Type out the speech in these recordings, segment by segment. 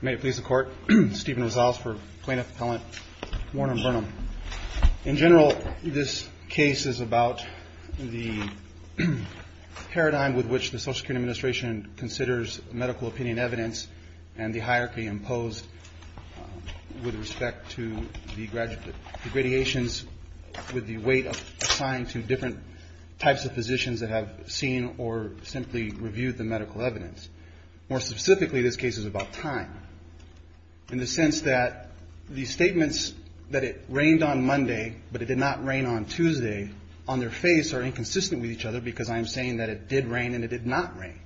May it please the Court, Stephen Rosales for Plaintiff Appellant, Warren v. Burnham. In general, this case is about the paradigm with which the Social Security Administration considers medical opinion evidence and the hierarchy imposed with respect to the graduations with the weight assigned to different types of physicians that have seen or simply reviewed the medical evidence. More specifically, this case is about time in the sense that the statements that it rained on Monday but it did not rain on Tuesday on their face are inconsistent with each other because I am saying that it did rain and it did not rain.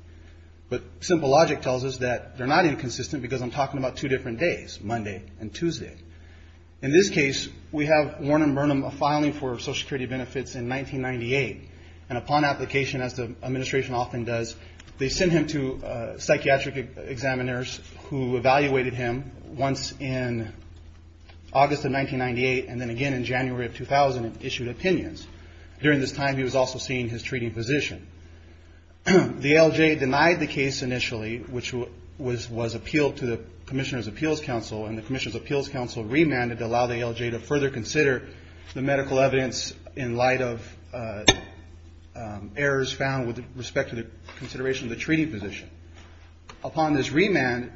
But simple logic tells us that they're not inconsistent because I'm talking about two different days, Monday and Tuesday. In this case, we have Warren v. Burnham filing for They sent him to psychiatric examiners who evaluated him once in August of 1998 and then again in January of 2000 and issued opinions. During this time, he was also seeing his treating physician. The ALJ denied the case initially which was appealed to the Commissioner's Appeals Council and the Commissioner's Appeals Council remanded to allow the ALJ to further consider the medical evidence in light of errors found with respect to the consideration of the treating physician. Upon this remand,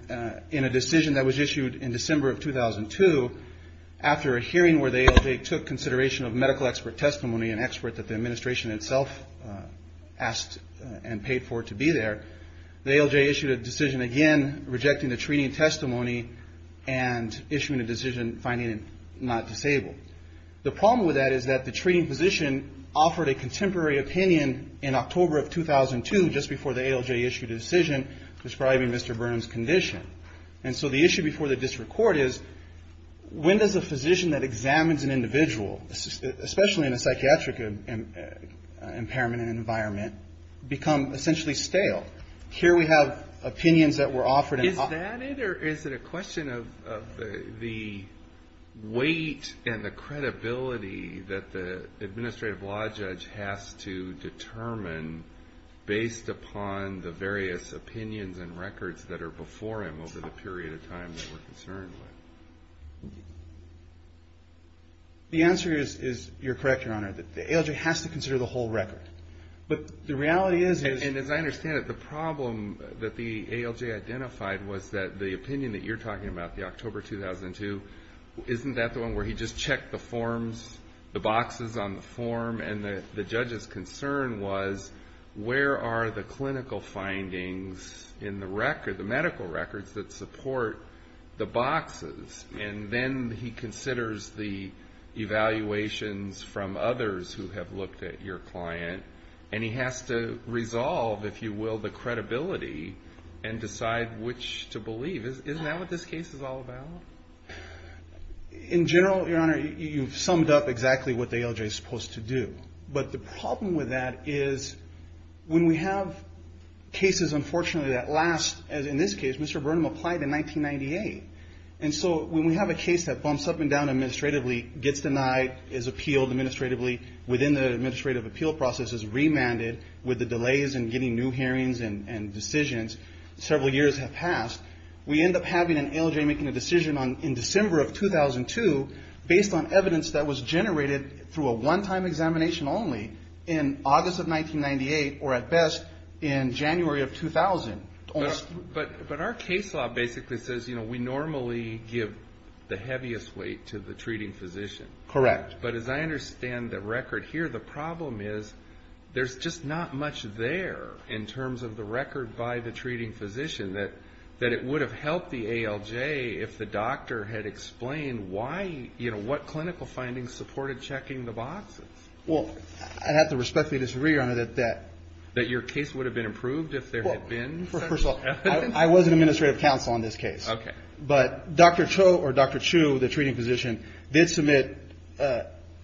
in a decision that was issued in December of 2002, after a hearing where the ALJ took consideration of medical expert testimony, an expert that the administration itself asked and paid for to be there, the ALJ issued a decision again rejecting the treating testimony and issuing a decision finding him not disabled. The problem with that is that the treating physician offered a contemporary opinion in October of 2002 just before the ALJ issued a decision describing Mr. Burnham's condition. And so the issue before the district court is, when does a physician that examines an individual, especially in a psychiatric impairment and environment, become essentially stale? Here we have opinions that were offered in October. Is that it or is it a question of the weight and the credibility that the administrative law judge has to determine based upon the various opinions and records that are before him over the period of time that we're concerned with? The answer is, you're correct, Your Honor, that the ALJ has to consider the whole record. But the reality is... And as I understand it, the problem that the ALJ identified was that the opinion that you're talking about, the October 2002, isn't that the one where he just checked the forms, the boxes on the form, and the judge's concern was, where are the clinical findings in the record, the medical records that support the boxes? And then he considers the evaluations from others who have looked at your client, and he has to resolve, if you will, the credibility and decide which to believe. Isn't that what this case is all about? In general, Your Honor, you've summed up exactly what the ALJ is supposed to do. But the problem with that is, when we have cases, unfortunately, that last, as in this case, Mr. Burnham applied in 1998. And so when we have a case that bumps up and down administratively, gets denied, is appealed administratively within the administrative appeal process, is remanded with the delays in getting new hearings and decisions, several years have passed, we end up having an ALJ making a decision in December of 2002 based on evidence that was generated through a one-time examination only in August of 1998, or at best, in January of 2000. But our case law basically says, you know, we normally give the heaviest weight to the judge. But as I understand the record here, the problem is, there's just not much there in terms of the record by the treating physician that it would have helped the ALJ if the doctor had explained why, you know, what clinical findings supported checking the boxes. Well, I have to respectfully disagree, Your Honor, that that... That your case would have been improved if there had been... Well, first of all, I was an administrative counsel on this case. Okay. But Dr. Cho, or Dr. Chu, the treating physician, did submit,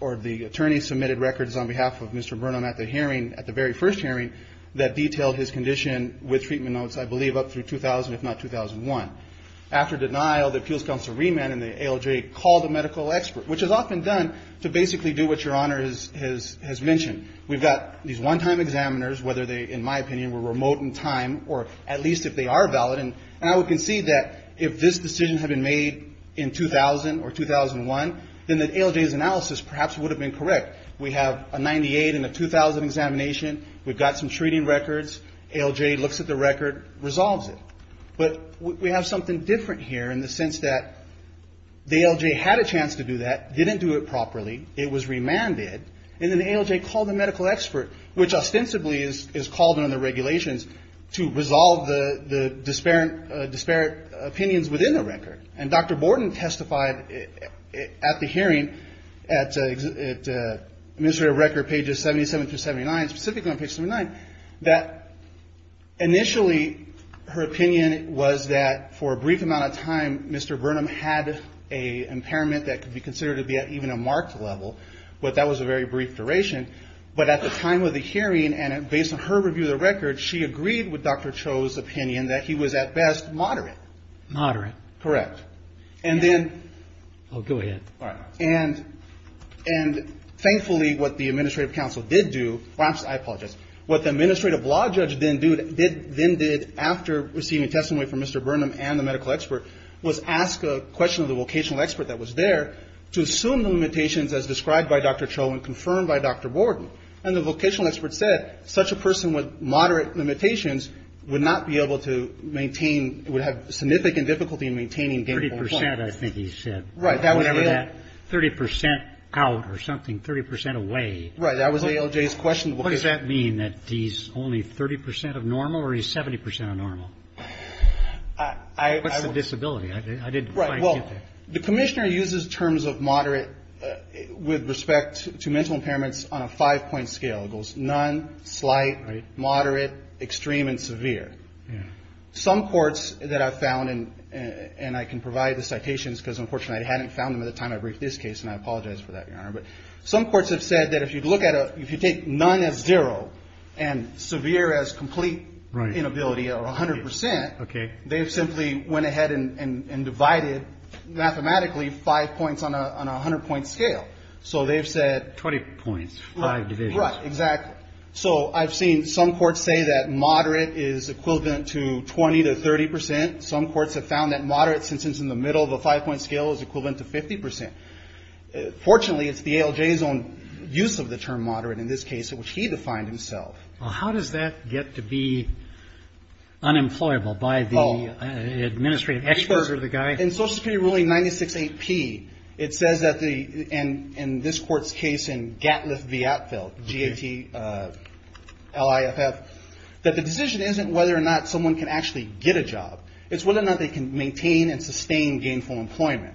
or the attorney submitted records on behalf of Mr. Burnham at the hearing, at the very first hearing, that detailed his condition with treatment notes, I believe, up through 2000, if not 2001. After denial, the appeals counsel remanded and the ALJ called a medical expert, which is often done to basically do what Your Honor has mentioned. We've got these one-time examiners, whether they, in my opinion, were remote in time, or at least if they are valid, and I would concede that if this decision had been made in 2000 or 2001, then the ALJ's analysis perhaps would have been correct. We have a 98 and a 2000 examination. We've got some treating records. ALJ looks at the record, resolves it. But we have something different here in the sense that the ALJ had a chance to do that, didn't do it properly, it was remanded, and then the ALJ called a medical expert, which ostensibly is called under the regulations to resolve the disparate opinions within the record. And Dr. Borden testified at the hearing, at administrative record pages 77 through 79, specifically on page 79, that initially her opinion was that for a brief amount of time, Mr. Burnham had an impairment that could be considered to be at even a marked level, but that was a very brief duration, but at the time of the hearing, and based on her review of the record, she agreed with Dr. Cho's opinion that he was at best moderate. Moderate. Correct. And then, and thankfully what the administrative counsel did do, I apologize, what the administrative law judge then did after receiving testimony from Mr. Burnham and the medical expert was ask a question of the vocational expert that was there to assume the limitations as described by Dr. Cho and confirmed by Dr. Borden, and the vocational expert said such a person with moderate limitations would not be able to maintain, would have significant difficulty in maintaining gainful employment. 30%, I think he said. Right, that was ALJ. 30% out or something, 30% away. Right, that was ALJ's question. What does that mean, that he's only 30% of normal or he's 70% of normal? What's the disability? I didn't quite get that. The commissioner uses terms of moderate with respect to mental impairments on a five-point scale. It goes none, slight, moderate, extreme, and severe. Some courts that I've found, and I can provide the citations because unfortunately I hadn't found them at the time I briefed this case, and I apologize for that, Your Honor, but some courts have said that if you take none as zero and severe as complete inability or 100%, they've simply went ahead and divided mathematically five points on a 100-point scale. So they've said... 20 points, five divisions. Right, exactly. So I've seen some courts say that moderate is equivalent to 20 to 30%. Some courts have found that moderate, since it's in the middle of a five-point scale, is equivalent to 50%. Fortunately, it's the ALJ's own use of the term moderate in this case, which he defined himself. Well, how does that get to be unemployable by the administrative experts or the guy? In Social Security ruling 96AP, it says that the... And in this court's case in Gatliff v. Atfeld, G-A-T-L-I-F-F, that the decision isn't whether or not someone can actually get a job. It's whether or not they can maintain and sustain gainful employment.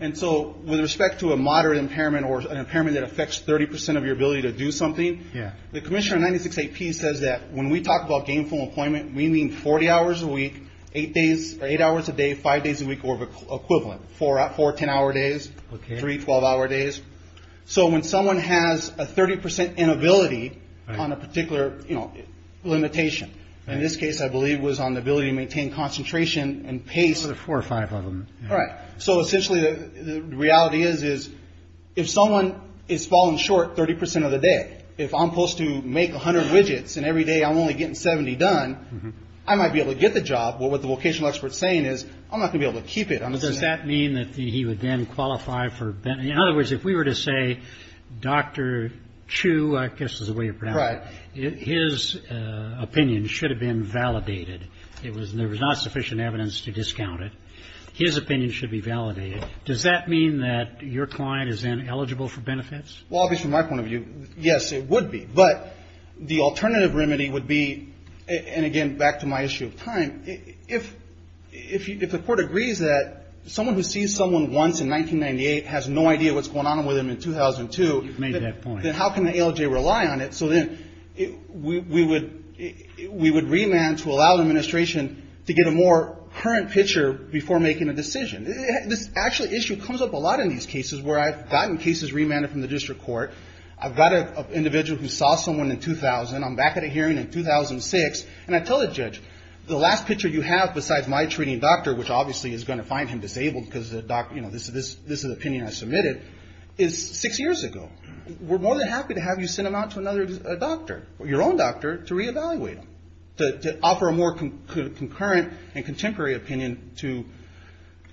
And so with respect to a moderate impairment or an impairment that affects 30% of your ability to do something, the commissioner of 96AP says that when we talk about gainful employment, we mean 40 hours a week, eight hours a day, five days a week or equivalent, four 10-hour days, three 12-hour days. So when someone has a 30% inability on a particular limitation, in this case, I believe it was on the ability to maintain concentration and pace. Four or five of them. All right. So essentially, the reality is, if someone is falling short 30% of the day, if I'm supposed to make 100 widgets and every day I'm only getting 70 done, I might be able to get the job. But what the vocational expert's saying is, I'm not going to be able to keep it. Does that mean that he would then qualify for... In other words, if we were to say, Dr. Chu, I guess is the way you pronounce it, his opinion should have been validated. There was not sufficient evidence to discount it. His opinion should be validated. Does that mean that your client is then eligible for benefits? Well, at least from my point of view, yes, it would be. But the alternative remedy would be, and again, back to my issue of time, if the court agrees that someone who sees someone once in 1998 has no idea what's going on with them in 2002... You've made that point. ...then how can the ALJ rely on it? So then we would remand to allow the administration to get a more current picture before making a decision. This actually issue comes up a lot in these cases where I've gotten cases remanded from the district court. I've got an individual who saw someone in 2000. I'm back at a hearing in 2006, and I tell the judge, the last picture you have besides my treating doctor, which obviously is going to find him disabled because this is an opinion I submitted, is six years ago. We're more than happy to have you send him out to another doctor, your own doctor, to reevaluate him. To offer a more concurrent and contemporary opinion to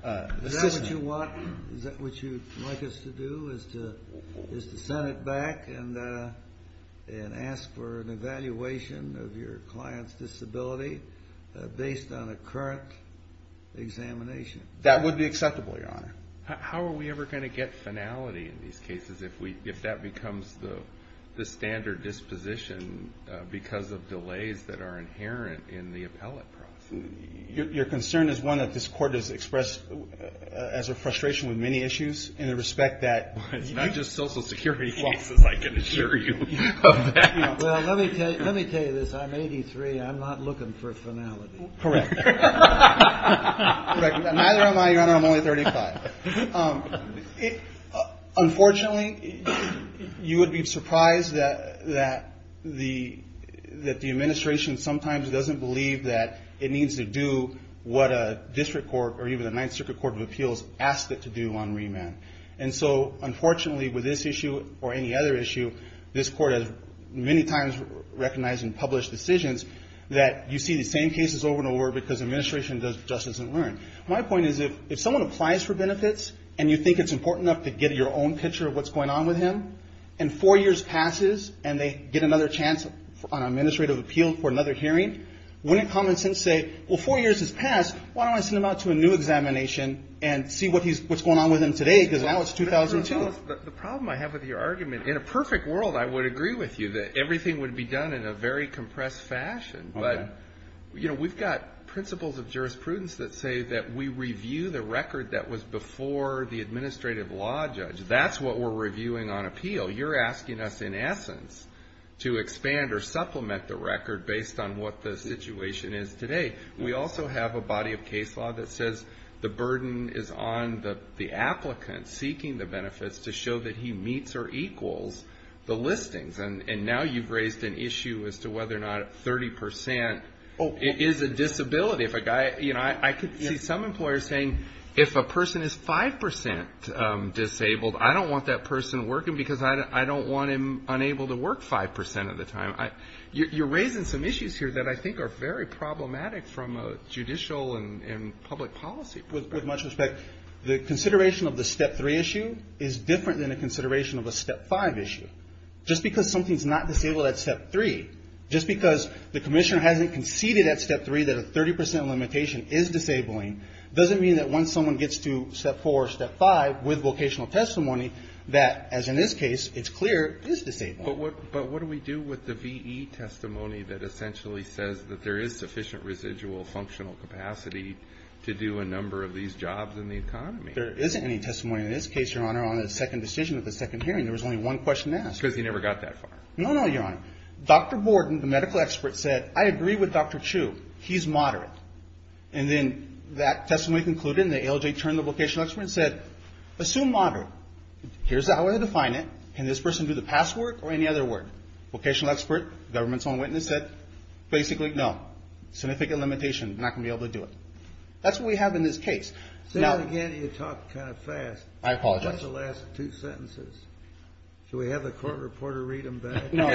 the system. Is that what you want? Is that what you'd like us to do? Is to send it back and ask for an evaluation of your client's disability based on a current examination? That would be acceptable, Your Honor. How are we ever going to get finality in these cases if that becomes the standard disposition because of delays that are inherent in the appellate process? Your concern is one that this court has expressed as a frustration with many issues in the respect that it's not just social security cases, I can assure you of that. Well, let me tell you this. I'm 83. I'm not looking for finality. Correct. Neither am I, Your Honor. I'm only 35. Unfortunately, you would be surprised that the administration sometimes doesn't believe that it needs to do what a district court or even a Ninth Circuit Court of Appeals asked it to do on remand. And so, unfortunately, with this issue or any other issue, this court has many times recognized and published decisions that you see the same cases over and over because administration just doesn't learn. My point is if someone applies for benefits and you think it's important enough to get your own picture of what's going on with him and four years passes and they get another chance on administrative appeal for another hearing, wouldn't common sense say, well, four years has passed, why don't I send him out to a new examination and see what's going on with him today because now it's 2002? The problem I have with your argument, in a perfect world, I would agree with you that everything would be done in a very compressed fashion. But, you know, we've got principles of jurisprudence that say that we review the record that was before the administrative law judge. That's what we're reviewing on appeal. You're asking us, in essence, to expand or supplement the record based on what the situation is today. We also have a body of case law that says the burden is on the applicant seeking the benefits to show that he meets or equals the listings. And now you've raised an issue as to whether or not 30% is a disability. You know, I could see some employers saying if a person is 5% disabled, I don't want that person working because I don't want him unable to work 5% of the time. You're raising some issues here that I think are very problematic from a judicial and public policy perspective. With much respect, the consideration of the Step 3 issue is different than a consideration of a Step 5 issue. Just because something's not disabled at Step 3, just because the commissioner hasn't conceded at Step 3 that a 30% limitation is disabling, doesn't mean that once someone gets to Step 4 or Step 5 with vocational testimony, that, as in this case, it's clear it is disabled. But what do we do with the V.E. testimony that essentially says that there is sufficient residual functional capacity to do a number of these jobs in the economy? There isn't any testimony in this case, Your Honor, on a second decision at the second hearing. There was only one question asked. Because he never got that far. No, no, Your Honor. Dr. Borden, the medical expert, said, I agree with Dr. Chu. He's moderate. And then that testimony concluded and the ALJ turned to the vocational expert and said, assume moderate. Here's the way to define it. Can this person do the past work or any other work? Vocational expert, government's own witness, said, basically, no. Significant limitation. Not going to be able to do it. That's what we have in this case. Say that again. You talk kind of fast. I apologize. What's the last two sentences? Should we have the court reporter read them back? No.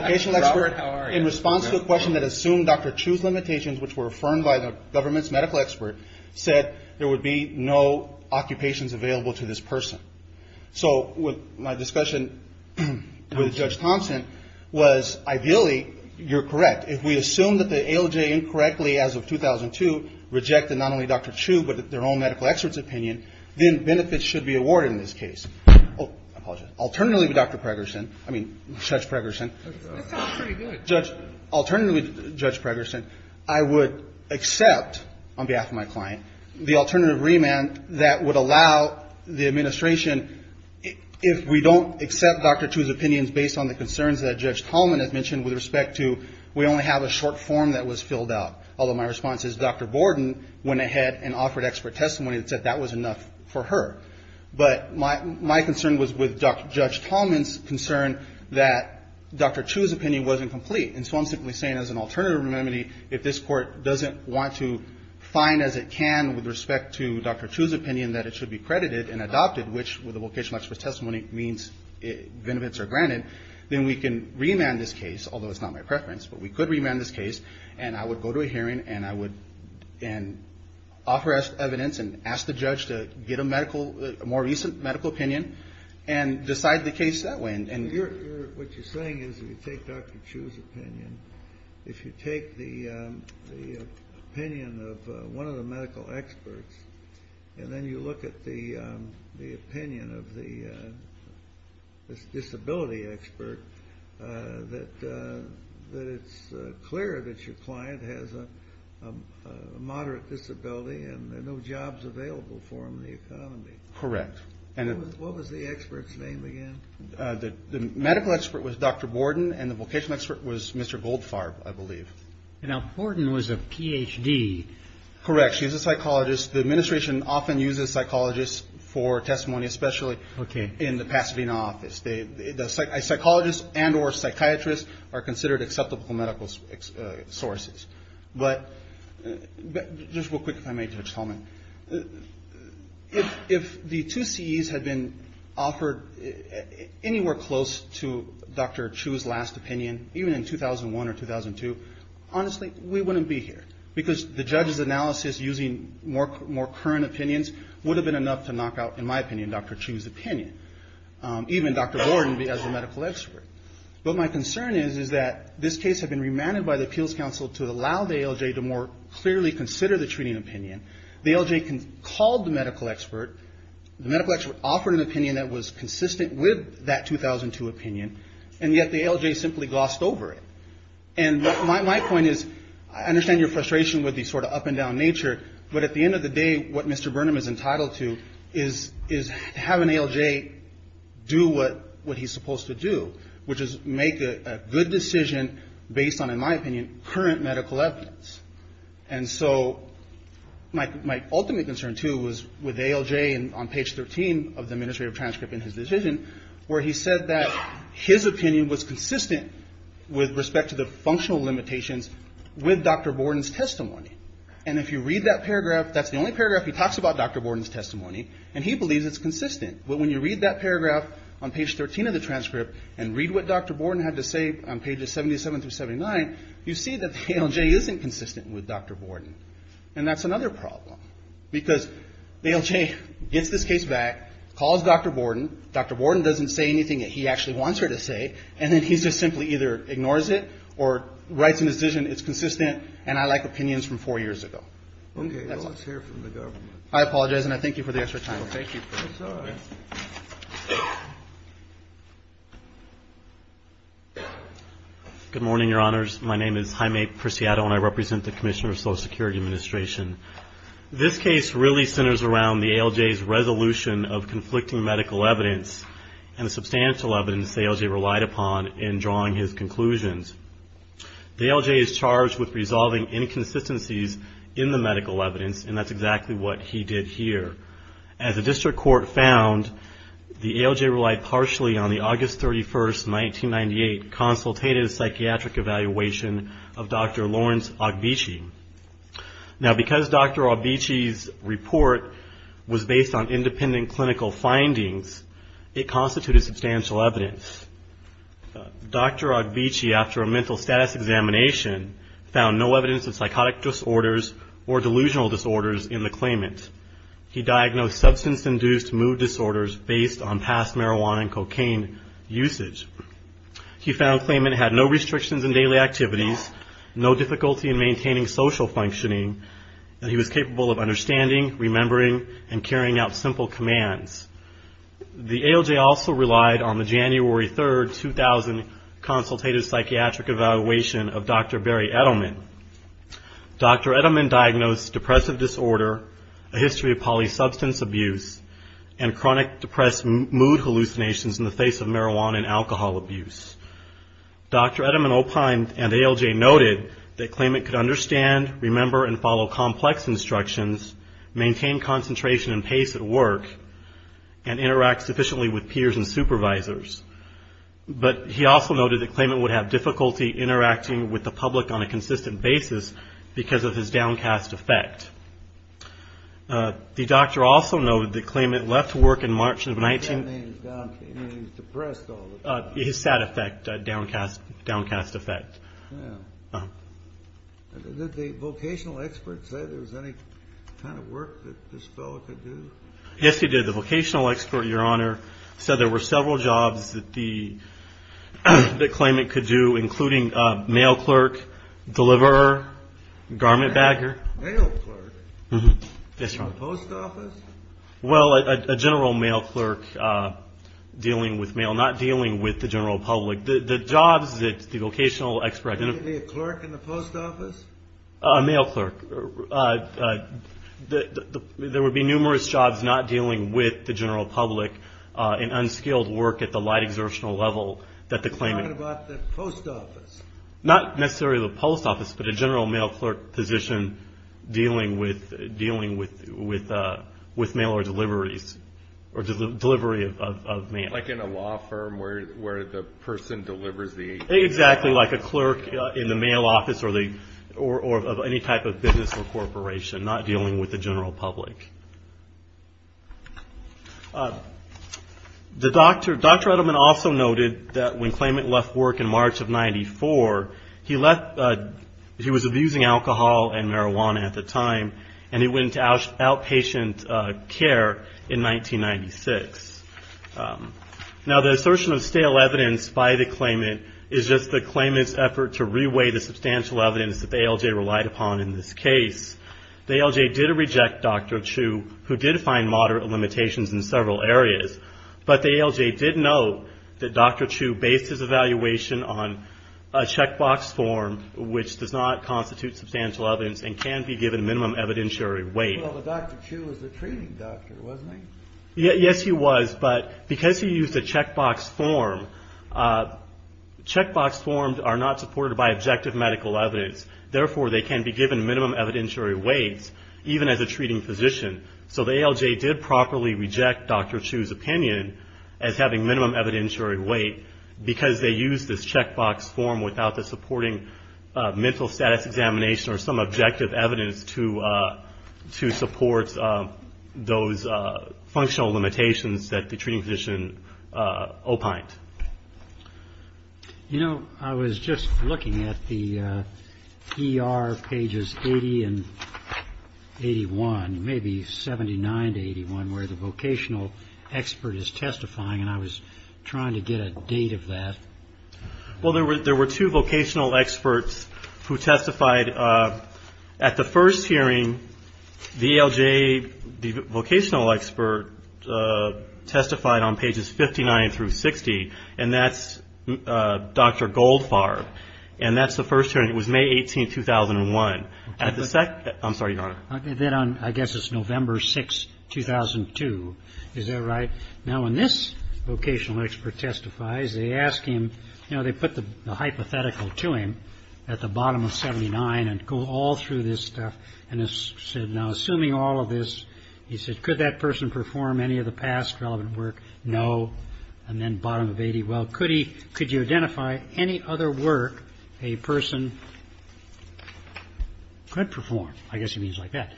Vocational expert, in response to a question that assumed Dr. Chu's limitations, which were affirmed by the government's medical expert, said there would be no occupations available to this person. So my discussion with Judge Thompson was, ideally, you're correct. If we assume that the ALJ incorrectly, as of 2002, rejected not only Dr. Chu but their own medical expert's opinion, then benefits should be awarded in this case. Oh, I apologize. Alternatively, Dr. Pregerson, I mean, Judge Pregerson. That sounds pretty good. Judge, alternatively, Judge Pregerson, I would accept, on behalf of my client, the alternative remand that would allow the administration, if we don't accept Dr. Chu's opinions based on the concerns that Judge Tallman has mentioned with respect to we only have a short form that was filled out. Although my response is Dr. Borden went ahead and offered expert testimony that said that was enough for her. But my concern was with Judge Tallman's concern that Dr. Chu's opinion wasn't complete. And so I'm simply saying, as an alternative remedy, if this Court doesn't want to find, as it can, with respect to Dr. Chu's opinion that it should be credited and adopted, which with a vocational expert's testimony means benefits are granted, then we can remand this case, although it's not my preference, but we could remand this case, and I would go to a hearing and offer evidence and ask the judge to get a more recent medical opinion and decide the case that way. What you're saying is if you take Dr. Chu's opinion, if you take the opinion of one of the medical experts, and then you look at the opinion of the disability expert, that it's clear that your client has a moderate disability and no jobs available for him in the economy. Correct. What was the expert's name again? The medical expert was Dr. Borden, and the vocational expert was Mr. Goldfarb, I believe. Now, Borden was a Ph.D. Correct. She was a psychologist. The administration often uses psychologists for testimony, especially in the Pasadena office. Psychologists and or psychiatrists are considered acceptable medical sources. But just real quick, if I may, Judge Tolman. If the two CEs had been offered anywhere close to Dr. Chu's last opinion, even in 2001 or 2002, honestly, we wouldn't be here because the judge's analysis using more current opinions would have been enough to knock out, in my opinion, Dr. Chu's opinion, even Dr. Borden as a medical expert. But my concern is that this case had been remanded by the Appeals Council to allow the ALJ to more clearly consider the treating opinion. The ALJ called the medical expert. The medical expert offered an opinion that was consistent with that 2002 opinion, and yet the ALJ simply glossed over it. And my point is, I understand your frustration with the sort of up-and-down nature, but at the end of the day, what Mr. Burnham is entitled to is having ALJ do what he's supposed to do, which is make a good decision based on, in my opinion, current medical evidence. And so my ultimate concern, too, was with ALJ on page 13 of the administrative transcript in his decision, where he said that his opinion was consistent with respect to the functional limitations with Dr. Borden's testimony. And if you read that paragraph, that's the only paragraph he talks about Dr. Borden's testimony, and he believes it's consistent. But when you read that paragraph on page 13 of the transcript and read what Dr. Borden had to say on pages 77 through 79, you see that the ALJ isn't consistent with Dr. Borden. And that's another problem, because ALJ gets this case back, calls Dr. Borden. Dr. Borden doesn't say anything that he actually wants her to say, and then he just simply either ignores it or writes a decision, it's consistent, and I like opinions from four years ago. That's all. Okay. Well, let's hear from the government. I apologize, and I thank you for the extra time. No, thank you. That's all right. Good morning, Your Honors. My name is Jaime Preciado, and I represent the Commissioner of Social Security Administration. This case really centers around the ALJ's resolution of conflicting medical evidence and the substantial evidence the ALJ relied upon in drawing his conclusions. The ALJ is charged with resolving inconsistencies in the medical evidence, and that's exactly what he did here. As the district court found, the ALJ relied partially on the August 31, 1998, consultative psychiatric evaluation of Dr. Lawrence Ogbeche. Now, because Dr. Ogbeche's report was based on independent clinical findings, it constituted substantial evidence. Dr. Ogbeche, after a mental status examination, found no evidence of psychotic disorders or delusional disorders in the claimant. He diagnosed substance-induced mood disorders based on past marijuana and cocaine usage. He found the claimant had no restrictions in daily activities, no difficulty in maintaining social functioning, and he was capable of understanding, remembering, and carrying out simple commands. The ALJ also relied on the January 3, 2000, consultative psychiatric evaluation of Dr. Barry Edelman. Dr. Edelman diagnosed depressive disorder, a history of polysubstance abuse, and chronic depressed mood hallucinations in the face of marijuana and alcohol abuse. Dr. Edelman and ALJ noted that claimant could understand, remember, and follow complex instructions, maintain concentration and pace at work, and interact sufficiently with peers and supervisors. But he also noted that claimant would have difficulty interacting with the public on a consistent basis because of his downcast effect. The doctor also noted that claimant left work in March of 19- He said he was downcast. I mean, he was depressed all the time. His sad effect, downcast effect. Yeah. Did the vocational expert say there was any kind of work that this fellow could do? Yes, he did. The vocational expert, Your Honor, said there were several jobs that the claimant could do, including mail clerk, deliverer, garment bagger. Mail clerk? Yes, Your Honor. Post office? Well, a general mail clerk dealing with mail, not dealing with the general public. The jobs that the vocational expert- Maybe a clerk in the post office? A mail clerk. There would be numerous jobs not dealing with the general public in unskilled work at the light exertional level that the claimant- He's talking about the post office. Not necessarily the post office, but a general mail clerk position dealing with mail or deliveries, or delivery of mail. Like in a law firm where the person delivers the- Exactly like a clerk in the mail office or any type of business or corporation, not dealing with the general public. Dr. Edelman also noted that when claimant left work in March of 94, he was abusing alcohol and marijuana at the time, and he went into outpatient care in 1996. Now, the assertion of stale evidence by the claimant is just the claimant's effort to reweigh the substantial evidence that the ALJ relied upon in this case. The ALJ did reject Dr. Chu, who did find moderate limitations in several areas, but the ALJ did note that Dr. Chu based his evaluation on a checkbox form, which does not constitute substantial evidence and can be given minimum evidentiary weight. Well, but Dr. Chu was the treating doctor, wasn't he? Yes, he was, but because he used a checkbox form, checkbox forms are not supported by objective medical evidence. Therefore, they can be given minimum evidentiary weight even as a treating physician. So the ALJ did properly reject Dr. Chu's opinion as having minimum evidentiary weight because they used this checkbox form without the supporting mental status examination or some objective evidence to support those functional limitations that the treating physician opined. You know, I was just looking at the ER pages 80 and 81, maybe 79 to 81, where the vocational expert is testifying, and I was trying to get a date of that. Well, there were two vocational experts who testified. At the first hearing, the ALJ, the vocational expert testified on pages 59 through 60, and that's Dr. Goldfarb. And that's the first hearing. It was May 18, 2001. I'm sorry, Your Honor. Then on, I guess it's November 6, 2002. Is that right? Now, when this vocational expert testifies, they ask him, you know, they put the hypothetical to him at the bottom of 79 and go all through this stuff. And they said, now, assuming all of this, he said, could that person perform any of the past relevant work? No. And then bottom of 80, well, could he, could you identify any other work a person could perform? I guess he means like that.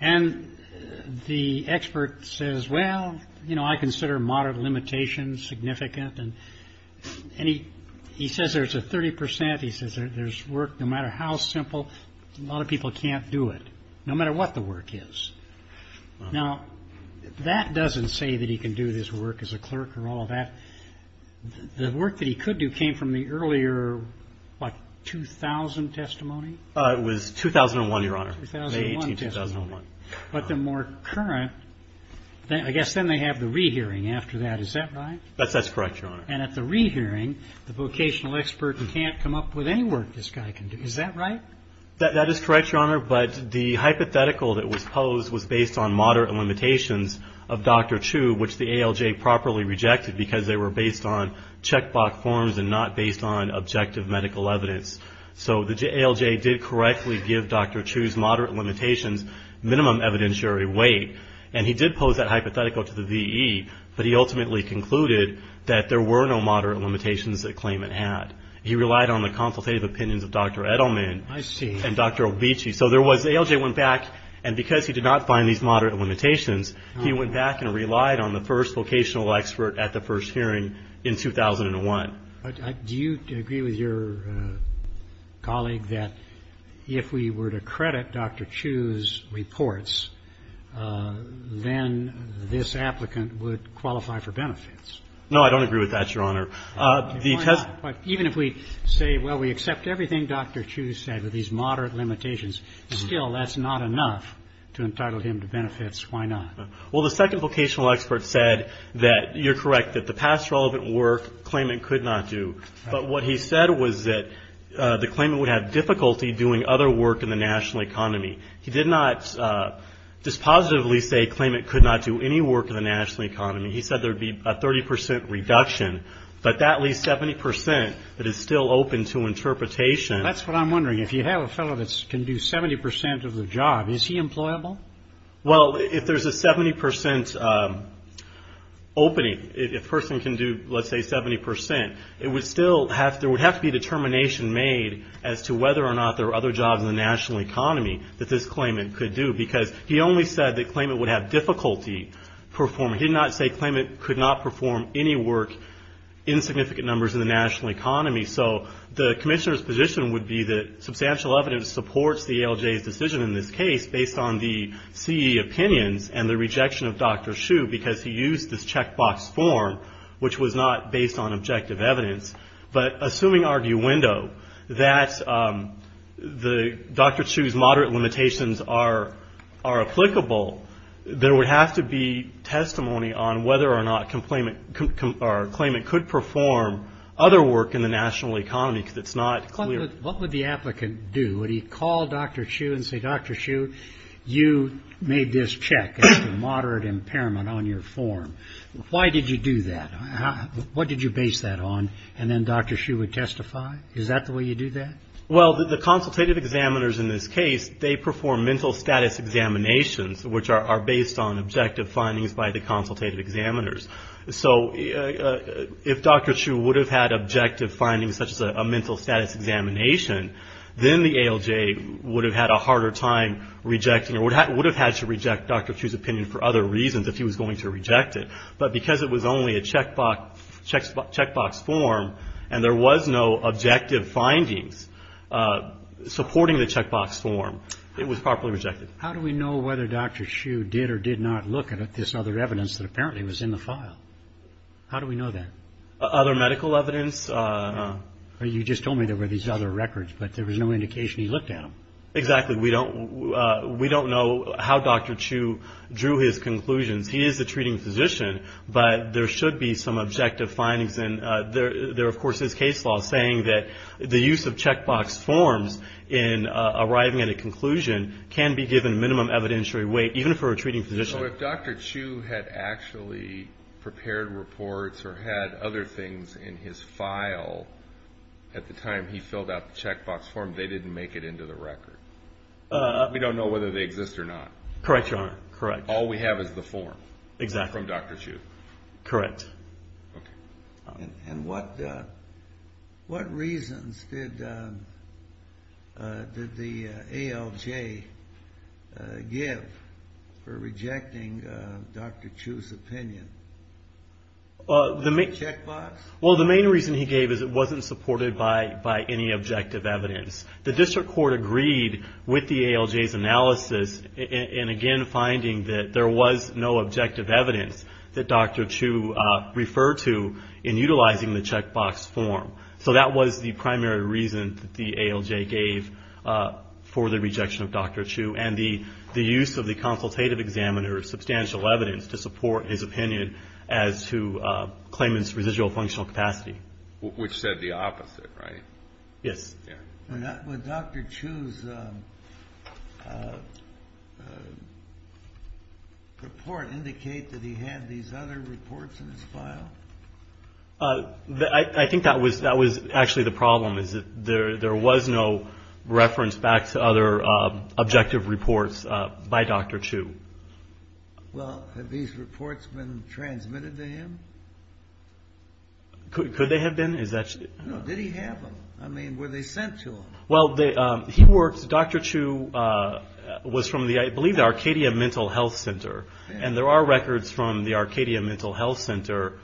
And the expert says, well, you know, I consider moderate limitations significant. And he says there's a 30 percent. He says there's work no matter how simple. A lot of people can't do it, no matter what the work is. Now, that doesn't say that he can do this work as a clerk or all of that. The work that he could do came from the earlier, what, 2000 testimony? It was 2001, Your Honor. 2001 testimony. But the more current, I guess then they have the rehearing after that. Is that right? That's correct, Your Honor. And at the rehearing, the vocational expert can't come up with any work this guy can do. Is that right? That is correct, Your Honor. But the hypothetical that was posed was based on moderate limitations of Dr. Chu, which the ALJ properly rejected because they were based on checkbox forms and not based on objective medical evidence. So the ALJ did correctly give Dr. Chu's moderate limitations minimum evidentiary weight. And he did pose that hypothetical to the VE, but he ultimately concluded that there were no moderate limitations that claimant had. He relied on the consultative opinions of Dr. Edelman. I see. And Dr. Obechey. So there was ALJ went back, and because he did not find these moderate limitations, he went back and relied on the first vocational expert at the first hearing in 2001. Do you agree with your colleague that if we were to credit Dr. Chu's reports, then this applicant would qualify for benefits? No, I don't agree with that, Your Honor. Even if we say, well, we accept everything Dr. Chu said with these moderate limitations, still that's not enough to entitle him to benefits. Why not? Well, the second vocational expert said that you're correct, that the past relevant work claimant could not do. But what he said was that the claimant would have difficulty doing other work in the national economy. He did not dispositively say claimant could not do any work in the national economy. He said there would be a 30 percent reduction, but that leaves 70 percent that is still open to interpretation. That's what I'm wondering. If you have a fellow that can do 70 percent of the job, is he employable? Well, if there's a 70 percent opening, if a person can do, let's say, 70 percent, there would have to be a determination made as to whether or not there are other jobs in the national economy that this claimant could do. Because he only said that claimant would have difficulty performing. He did not say claimant could not perform any work in significant numbers in the national economy. So the commissioner's position would be that substantial evidence supports the ALJ's decision in this case, based on the CE opinions and the rejection of Dr. Hsu because he used this checkbox form, which was not based on objective evidence. But assuming arguendo, that Dr. Hsu's moderate limitations are applicable, there would have to be testimony on whether or not claimant could perform other work in the national economy because it's not clear. What would the applicant do? Would he call Dr. Hsu and say, Dr. Hsu, you made this check as to moderate impairment on your form. Why did you do that? What did you base that on? And then Dr. Hsu would testify? Is that the way you do that? Well, the consultative examiners in this case, they perform mental status examinations, which are based on objective findings by the consultative examiners. So if Dr. Hsu would have had objective findings such as a mental status examination, then the ALJ would have had a harder time rejecting or would have had to reject Dr. Hsu's opinion for other reasons if he was going to reject it. But because it was only a checkbox form and there was no objective findings supporting the checkbox form, it was properly rejected. How do we know whether Dr. Hsu did or did not look at this other evidence that apparently was in the file? How do we know that? Other medical evidence? You just told me there were these other records, but there was no indication he looked at them. Exactly. We don't know how Dr. Hsu drew his conclusions. He is a treating physician, but there should be some objective findings. And there, of course, is case law saying that the use of checkbox forms in arriving at a conclusion can be given minimum evidentiary weight, even for a treating physician. So if Dr. Hsu had actually prepared reports or had other things in his file at the time he filled out the checkbox form, they didn't make it into the record? We don't know whether they exist or not. Correct, Your Honor. All we have is the form from Dr. Hsu. Correct. And what reasons did the ALJ give for rejecting Dr. Hsu's opinion? The checkbox? Well, the main reason he gave is it wasn't supported by any objective evidence. The district court agreed with the ALJ's analysis in, again, finding that there was no objective evidence that Dr. Hsu referred to in utilizing the checkbox form. So that was the primary reason that the ALJ gave for the rejection of Dr. Hsu and the use of the consultative examiner's substantial evidence to support his opinion as to claimant's residual functional capacity. Which said the opposite, right? Yes. Would Dr. Hsu's report indicate that he had these other reports in his file? I think that was actually the problem, is that there was no reference back to other objective reports by Dr. Hsu. Well, have these reports been transmitted to him? Could they have been? No, did he have them? I mean, were they sent to him? Well, Dr. Hsu was from, I believe, the Arcadia Mental Health Center. And there are records from the Arcadia Mental Health Center,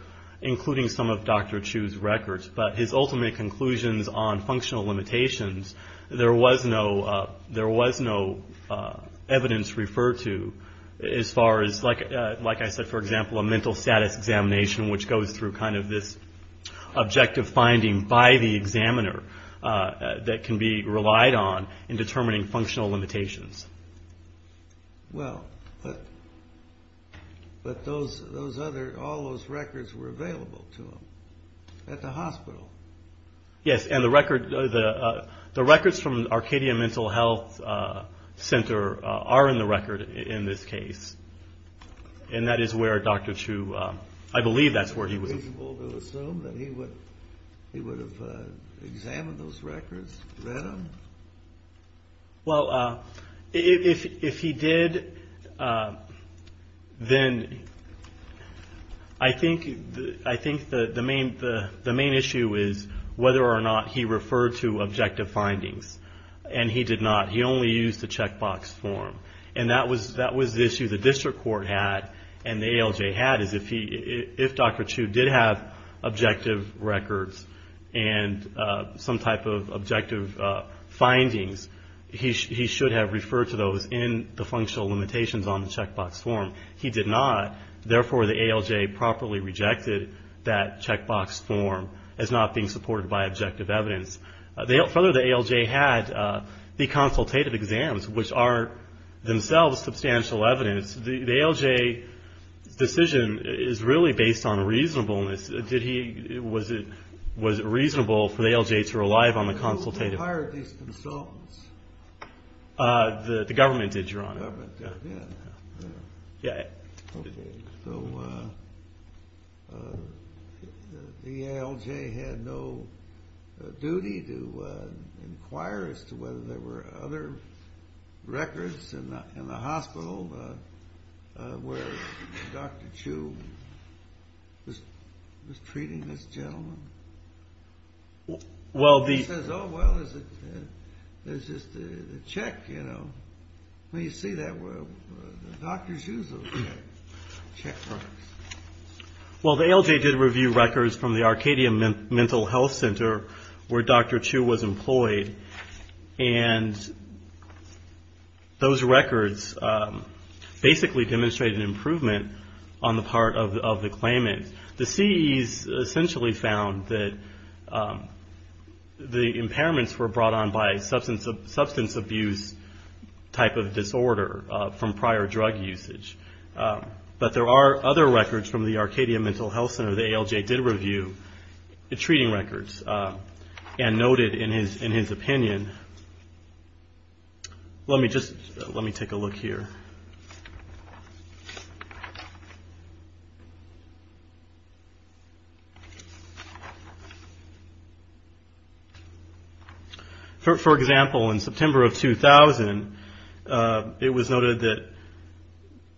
including some of Dr. Hsu's records. But his ultimate conclusions on functional limitations, there was no evidence referred to as far as, like I said, for example, a mental status examination which goes through kind of this objective finding by the examiner that can be relied on in determining functional limitations. Well, but all those records were available to him at the hospital. Yes, and the records from the Arcadia Mental Health Center are in the record in this case. And that is where Dr. Hsu, I believe that's where he was. Is it reasonable to assume that he would have examined those records, read them? Well, if he did, then I think the main issue is whether or not he referred to objective findings. And he did not. He only used the checkbox form. And that was the issue the district court had and the ALJ had, is if Dr. Hsu did have objective records and some type of objective findings, he should have referred to those in the functional limitations on the checkbox form. He did not. Therefore, the ALJ properly rejected that checkbox form as not being supported by objective evidence. Further, the ALJ had the consultative exams, which are themselves substantial evidence. The ALJ decision is really based on reasonableness. Was it reasonable for the ALJ to rely on the consultative? Who hired these consultants? The government did, Your Honor. The government did, yeah. Okay, so the ALJ had no duty to inquire as to whether there were other records in the hospital where Dr. Hsu was treating this gentleman? Well, the – He says, oh, well, there's just a check, you know. Well, you see that where the doctors use those checkboxes. Well, the ALJ did review records from the Arcadia Mental Health Center where Dr. Hsu was employed, and those records basically demonstrated an improvement on the part of the claimant. The CEs essentially found that the impairments were brought on by a substance abuse type of disorder from prior drug usage. But there are other records from the Arcadia Mental Health Center the ALJ did review, the treating records, and noted in his opinion. Let me just – let me take a look here. For example, in September of 2000, it was noted that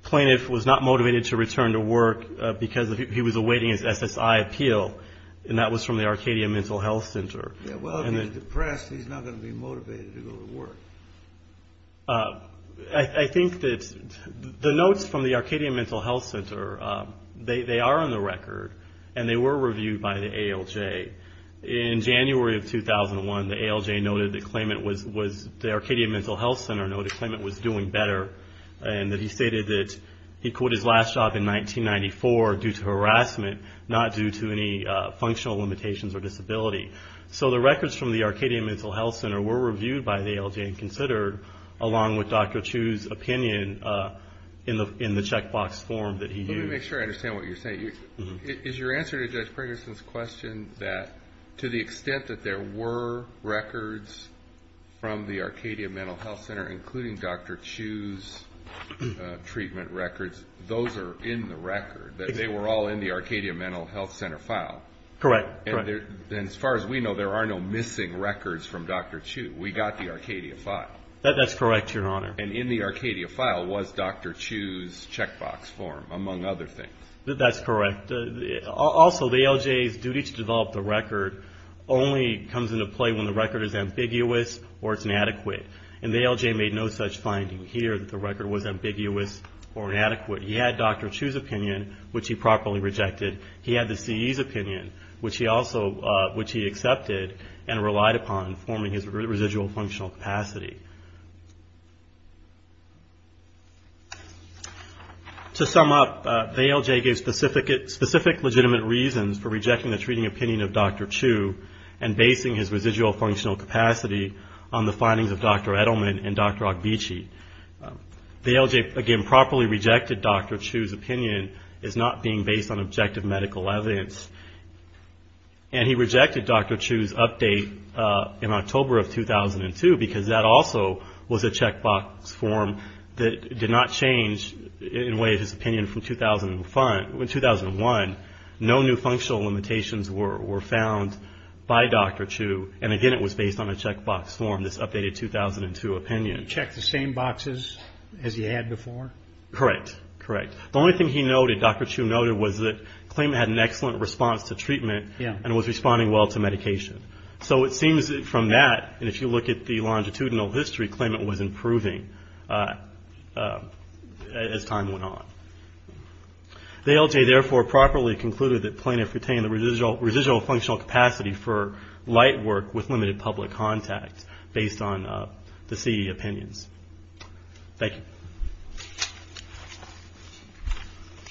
plaintiff was not motivated to return to work because he was awaiting his SSI appeal, and that was from the Arcadia Mental Health Center. Yeah, well, if he's depressed, he's not going to be motivated to go to work. I think that the notes from the Arcadia Mental Health Center, they are on the record, and they were reviewed by the ALJ. In January of 2001, the ALJ noted that claimant was – the Arcadia Mental Health Center noted claimant was doing better, and that he stated that he quit his last job in 1994 due to harassment, not due to any functional limitations or disability. So the records from the Arcadia Mental Health Center were reviewed by the ALJ and considered, along with Dr. Chu's opinion in the checkbox form that he used. Let me make sure I understand what you're saying. Is your answer to Judge Pregerson's question that to the extent that there were records from the Arcadia Mental Health Center, including Dr. Chu's treatment records, those are in the record, that they were all in the Arcadia Mental Health Center file? Correct. And as far as we know, there are no missing records from Dr. Chu. We got the Arcadia file. That's correct, Your Honor. And in the Arcadia file was Dr. Chu's checkbox form, among other things. That's correct. Also, the ALJ's duty to develop the record only comes into play when the record is ambiguous or it's inadequate, and the ALJ made no such finding here that the record was ambiguous or inadequate. He had Dr. Chu's opinion, which he properly rejected. He had the CE's opinion, which he accepted and relied upon, forming his residual functional capacity. To sum up, the ALJ gave specific legitimate reasons for rejecting the treating opinion of Dr. Chu and basing his residual functional capacity on the findings of Dr. Edelman and Dr. Ogbechi. The ALJ, again, properly rejected Dr. Chu's opinion as not being based on objective medical evidence. And he rejected Dr. Chu's update in October of 2002 because that also was a checkbox form that did not change, in a way, his opinion from 2001. No new functional limitations were found by Dr. Chu. And, again, it was based on a checkbox form, this updated 2002 opinion. You didn't check the same boxes as you had before? Correct, correct. The only thing he noted, Dr. Chu noted, was that claimant had an excellent response to treatment and was responding well to medication. So it seems from that, and if you look at the longitudinal history, claimant was improving as time went on. The ALJ, therefore, properly concluded that plaintiff retained the residual functional capacity for light work with limited public contact based on the CE opinions. Thank you.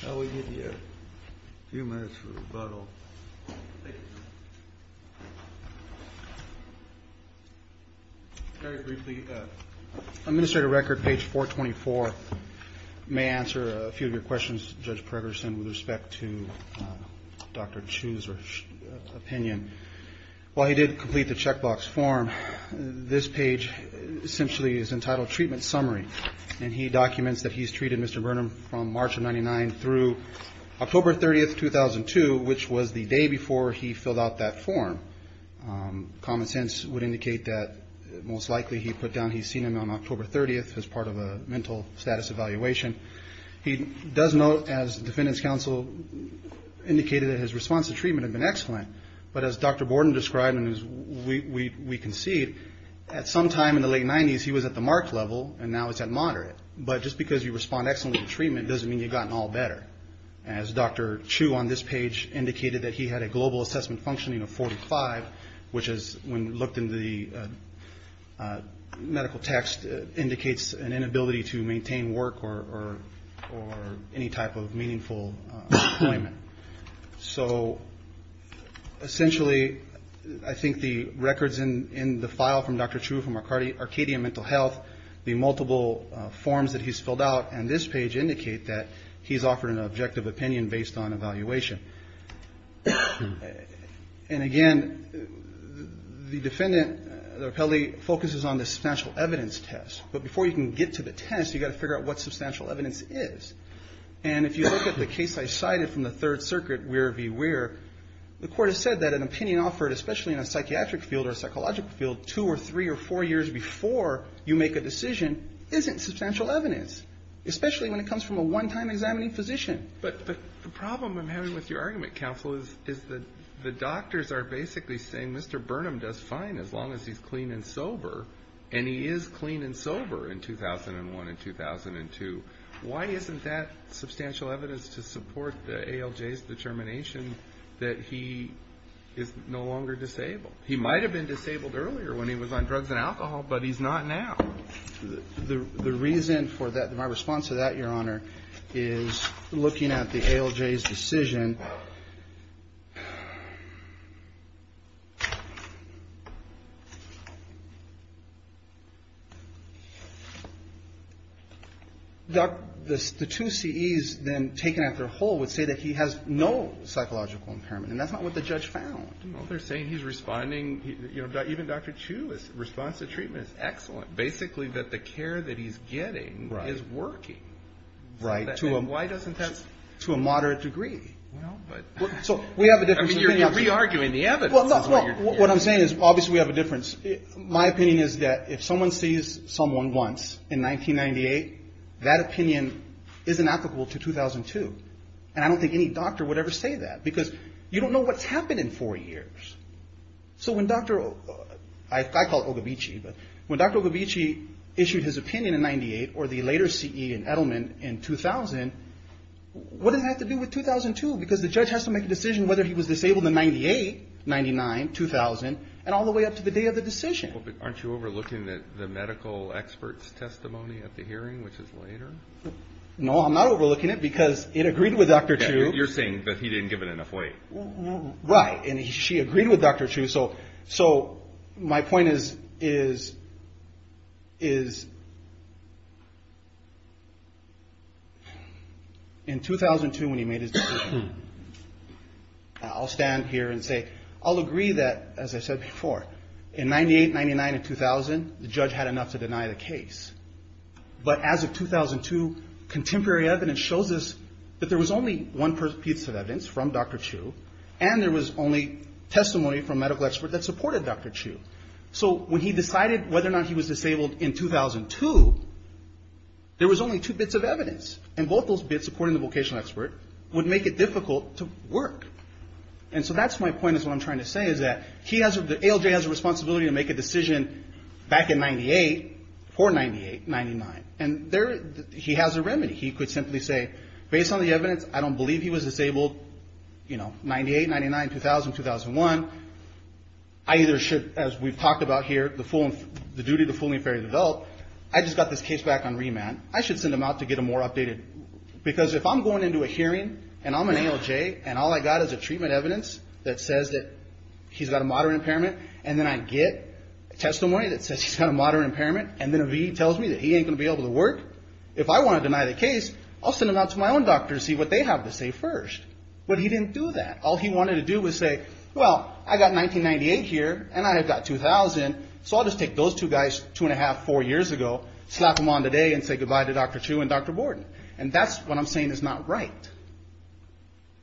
We'll give you a few minutes for rebuttal. Very briefly, Administrator Record, page 424, may answer a few of your questions, Judge Pregerson, with respect to Dr. Chu's opinion. While he did complete the checkbox form, this page essentially is entitled Treatment Summary, and he documents that he's treated Mr. Burnham from March of 99 through October 30th, 2002, which was the day before he filled out that form. Common sense would indicate that most likely he put down he's seen him on October 30th as part of a mental status evaluation. He does note, as the Defendant's Counsel indicated, that his response to treatment had been excellent, but as Dr. Borden described, and as we concede, at some time in the late 90s he was at the marked level, and now it's at moderate. But just because you respond excellently to treatment doesn't mean you've gotten all better, as Dr. Chu on this page indicated that he had a global assessment functioning of 45, which is, when looked into the medical text, indicates an inability to maintain work or any type of meaningful employment. So essentially I think the records in the file from Dr. Chu from Arcadia Mental Health, the multiple forms that he's filled out on this page indicate that he's offered an objective opinion based on evaluation. And again, the defendant, the rappellee, focuses on the substantial evidence test. But before you can get to the test, you've got to figure out what substantial evidence is. And if you look at the case I cited from the Third Circuit, where be where, the Court has said that an opinion offered, especially in a psychiatric field or a psychological field, two or three or four years before you make a decision isn't substantial evidence, especially when it comes from a one-time examining physician. But the problem I'm having with your argument, Counsel, is that the doctors are basically saying, Mr. Burnham does fine as long as he's clean and sober, and he is clean and sober in 2001 and 2002. Why isn't that substantial evidence to support the ALJ's determination that he is no longer disabled? He might have been disabled earlier when he was on drugs and alcohol, but he's not now. The reason for that, my response to that, Your Honor, is looking at the ALJ's decision. The two CEs then taken after Hull would say that he has no psychological impairment, and that's not what the judge found. Well, they're saying he's responding, you know, even Dr. Chu's response to treatment is excellent. Basically that the care that he's getting is working. Right. Why doesn't that... To a moderate degree. Well, but... So we have a difference in opinion. I mean, you're re-arguing the evidence. Well, what I'm saying is obviously we have a difference. My opinion is that if someone sees someone once in 1998, that opinion isn't applicable to 2002. And I don't think any doctor would ever say that, because you don't know what's happened in four years. So when Dr. O... I call it Ogibichi, but when Dr. Ogibichi issued his opinion in 98, or the later CE in Edelman in 2000, what does that have to do with 2002? Because the judge has to make a decision whether he was disabled in 98, 99, 2000, and all the way up to the day of the decision. Well, but aren't you overlooking the medical expert's testimony at the hearing, which is later? No, I'm not overlooking it, because it agreed with Dr. Chu. You're saying that he didn't give it enough weight. Right. And she agreed with Dr. Chu. So my point is, in 2002, when he made his decision, I'll stand here and say, I'll agree that, as I said before, in 98, 99, and 2000, the judge had enough to deny the case. But as of 2002, contemporary evidence shows us that there was only one piece of evidence from Dr. Chu, and there was only testimony from a medical expert that supported Dr. Chu. So when he decided whether or not he was disabled in 2002, there was only two bits of evidence. And both those bits, according to the vocational expert, would make it difficult to work. And so that's my point, is what I'm trying to say, is that ALJ has a responsibility to make a decision back in 98, for 98, 99. And he has a remedy. He could simply say, based on the evidence, I don't believe he was disabled, you know, 98, 99, 2000, 2001. I either should, as we've talked about here, the duty of the fooling fairy of the belt, I just got this case back on remand, I should send him out to get him more updated. Because if I'm going into a hearing, and I'm an ALJ, and all I got is a treatment evidence that says that he's got a moderate impairment, and then I get testimony that says he's got a moderate impairment, and then a VA tells me that he ain't going to be able to work, if I want to deny the case, I'll send him out to my own doctor to see what they have to say first. But he didn't do that. All he wanted to do was say, well, I got 1998 here, and I have got 2000, so I'll just take those two guys two and a half, four years ago, slap them on today, and say goodbye to Dr. Chu and Dr. Borden. And that's what I'm saying is not right.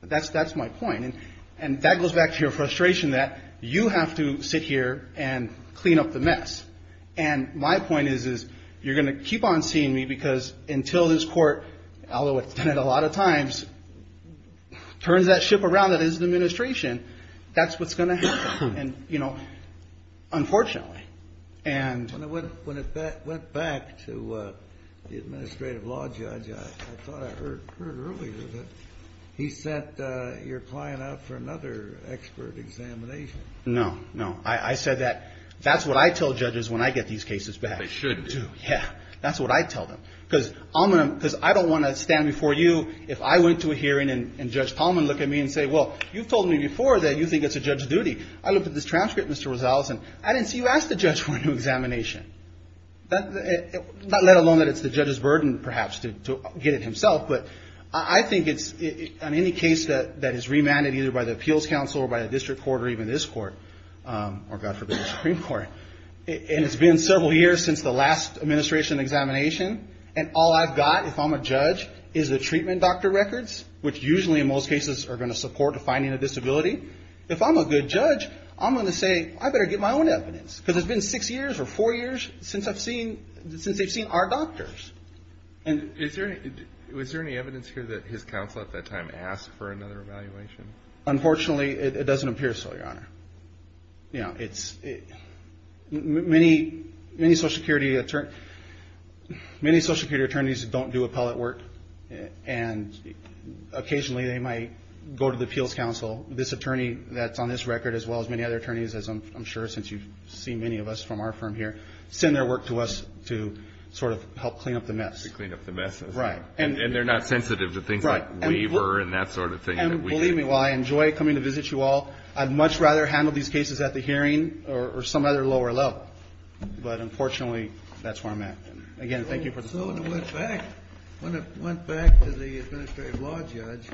That's my point. And that goes back to your frustration that you have to sit here and clean up the mess. And my point is, is you're going to keep on seeing me, because until this court, although it's done it a lot of times, turns that ship around that is the administration, that's what's going to happen. And, you know, unfortunately. When it went back to the administrative law judge, I thought I heard earlier that he sent your client out for another expert examination. No, no. I said that's what I tell judges when I get these cases back. They should do. Yeah. That's what I tell them. Because I don't want to stand before you if I went to a hearing and Judge Palmer looked at me and said, I looked at this transcript, Mr. Rosales, and I didn't see you ask the judge for a new examination. Not let alone that it's the judge's burden, perhaps, to get it himself, but I think on any case that is remanded either by the appeals council or by the district court or even this court, or God forbid the Supreme Court, and it's been several years since the last administration examination, and all I've got, if I'm a judge, is the treatment doctor records, which usually in most cases are going to support the finding of disability. If I'm a good judge, I'm going to say, I better get my own evidence, because it's been six years or four years since they've seen our doctors. Was there any evidence here that his counsel at that time asked for another evaluation? Unfortunately, it doesn't appear so, Your Honor. Many social security attorneys don't do appellate work, and occasionally they might go to the appeals council. This attorney that's on this record, as well as many other attorneys, as I'm sure since you've seen many of us from our firm here, send their work to us to sort of help clean up the mess. To clean up the mess. Right. And they're not sensitive to things like waiver and that sort of thing. And believe me, while I enjoy coming to visit you all, I'd much rather handle these cases at the hearing or some other lower level, but unfortunately, that's where I'm at. Again, thank you for the phone call. When it went back to the administrative law judge,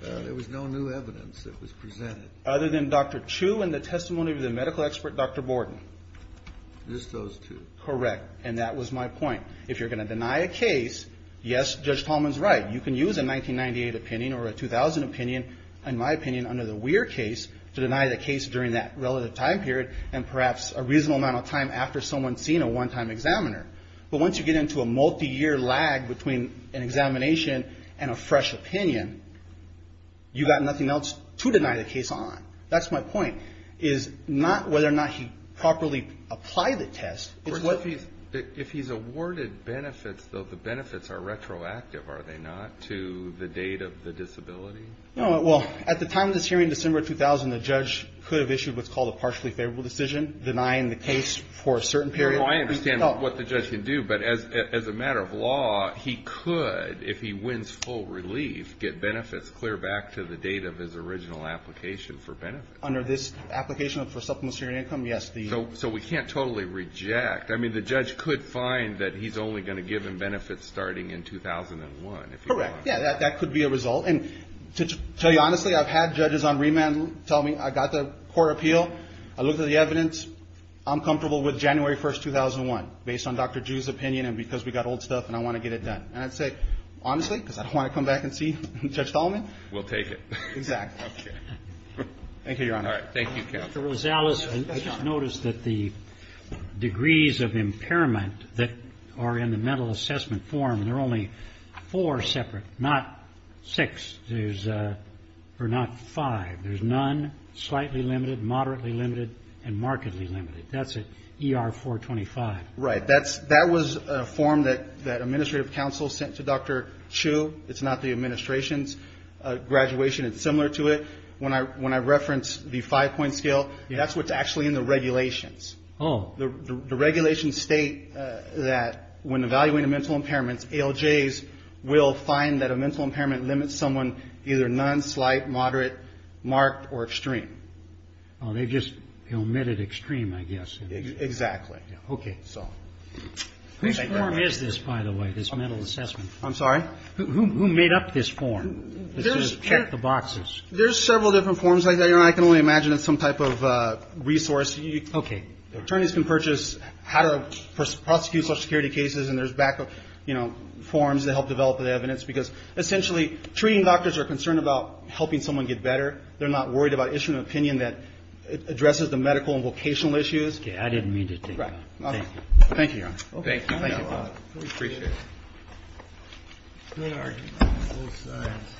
there was no new evidence that was presented. Other than Dr. Chu and the testimony of the medical expert, Dr. Borden. Just those two. Correct. And that was my point. If you're going to deny a case, yes, Judge Tallman's right. You can use a 1998 opinion or a 2000 opinion, in my opinion, under the Weir case to deny the case during that relative time period and perhaps a reasonable amount of time after someone's seen a one-time examiner. But once you get into a multi-year lag between an examination and a fresh opinion, you've got nothing else to deny the case on. That's my point, is not whether or not he properly applied the test. If he's awarded benefits, though, the benefits are retroactive, are they not, to the date of the disability? Well, at the time of this hearing, December 2000, the judge could have issued what's called a partially favorable decision, denying the case for a certain period. No, I understand what the judge can do, but as a matter of law, he could, if he wins full relief, get benefits clear back to the date of his original application for benefits. Under this application for supplementary income, yes. So we can't totally reject. I mean, the judge could find that he's only going to give him benefits starting in 2001, if you want. Correct. Yeah, that could be a result. And to tell you honestly, I've had judges on remand tell me I got the court appeal, I looked at the evidence, I'm comfortable with January 1, 2001, based on Dr. Ju's opinion and because we got old stuff and I want to get it done. And I'd say, honestly, because I don't want to come back and see Judge Dahlman. We'll take it. Exactly. Okay. Thank you, Your Honor. All right. Thank you, counsel. Mr. Rosales, I just noticed that the degrees of impairment that are in the mental assessment form, there are only four separate, not six. There's not five. There's none, slightly limited, moderately limited, and markedly limited. That's an ER-425. Right. That was a form that administrative counsel sent to Dr. Chu. It's not the administration's graduation. It's similar to it. When I reference the five-point scale, that's what's actually in the regulations. Oh. The regulations state that when evaluating mental impairments, ALJs will find that a mental impairment limits someone either none, slight, moderate, marked, or extreme. Oh, they just omitted extreme, I guess. Exactly. Okay. Whose form is this, by the way, this mental assessment form? I'm sorry? Who made up this form? Let's just check the boxes. There's several different forms like that. Your Honor, I can only imagine it's some type of resource. Okay. Attorneys can purchase how to prosecute social security cases, and there's back, you know, forms that help develop the evidence because, essentially, treating doctors are concerned about helping someone get better. They're not worried about issuing an opinion that addresses the medical and vocational issues. Okay. I didn't mean to take that. Right. Thank you, Your Honor. Thank you. Thank you. We appreciate it. Good arguments on both sides.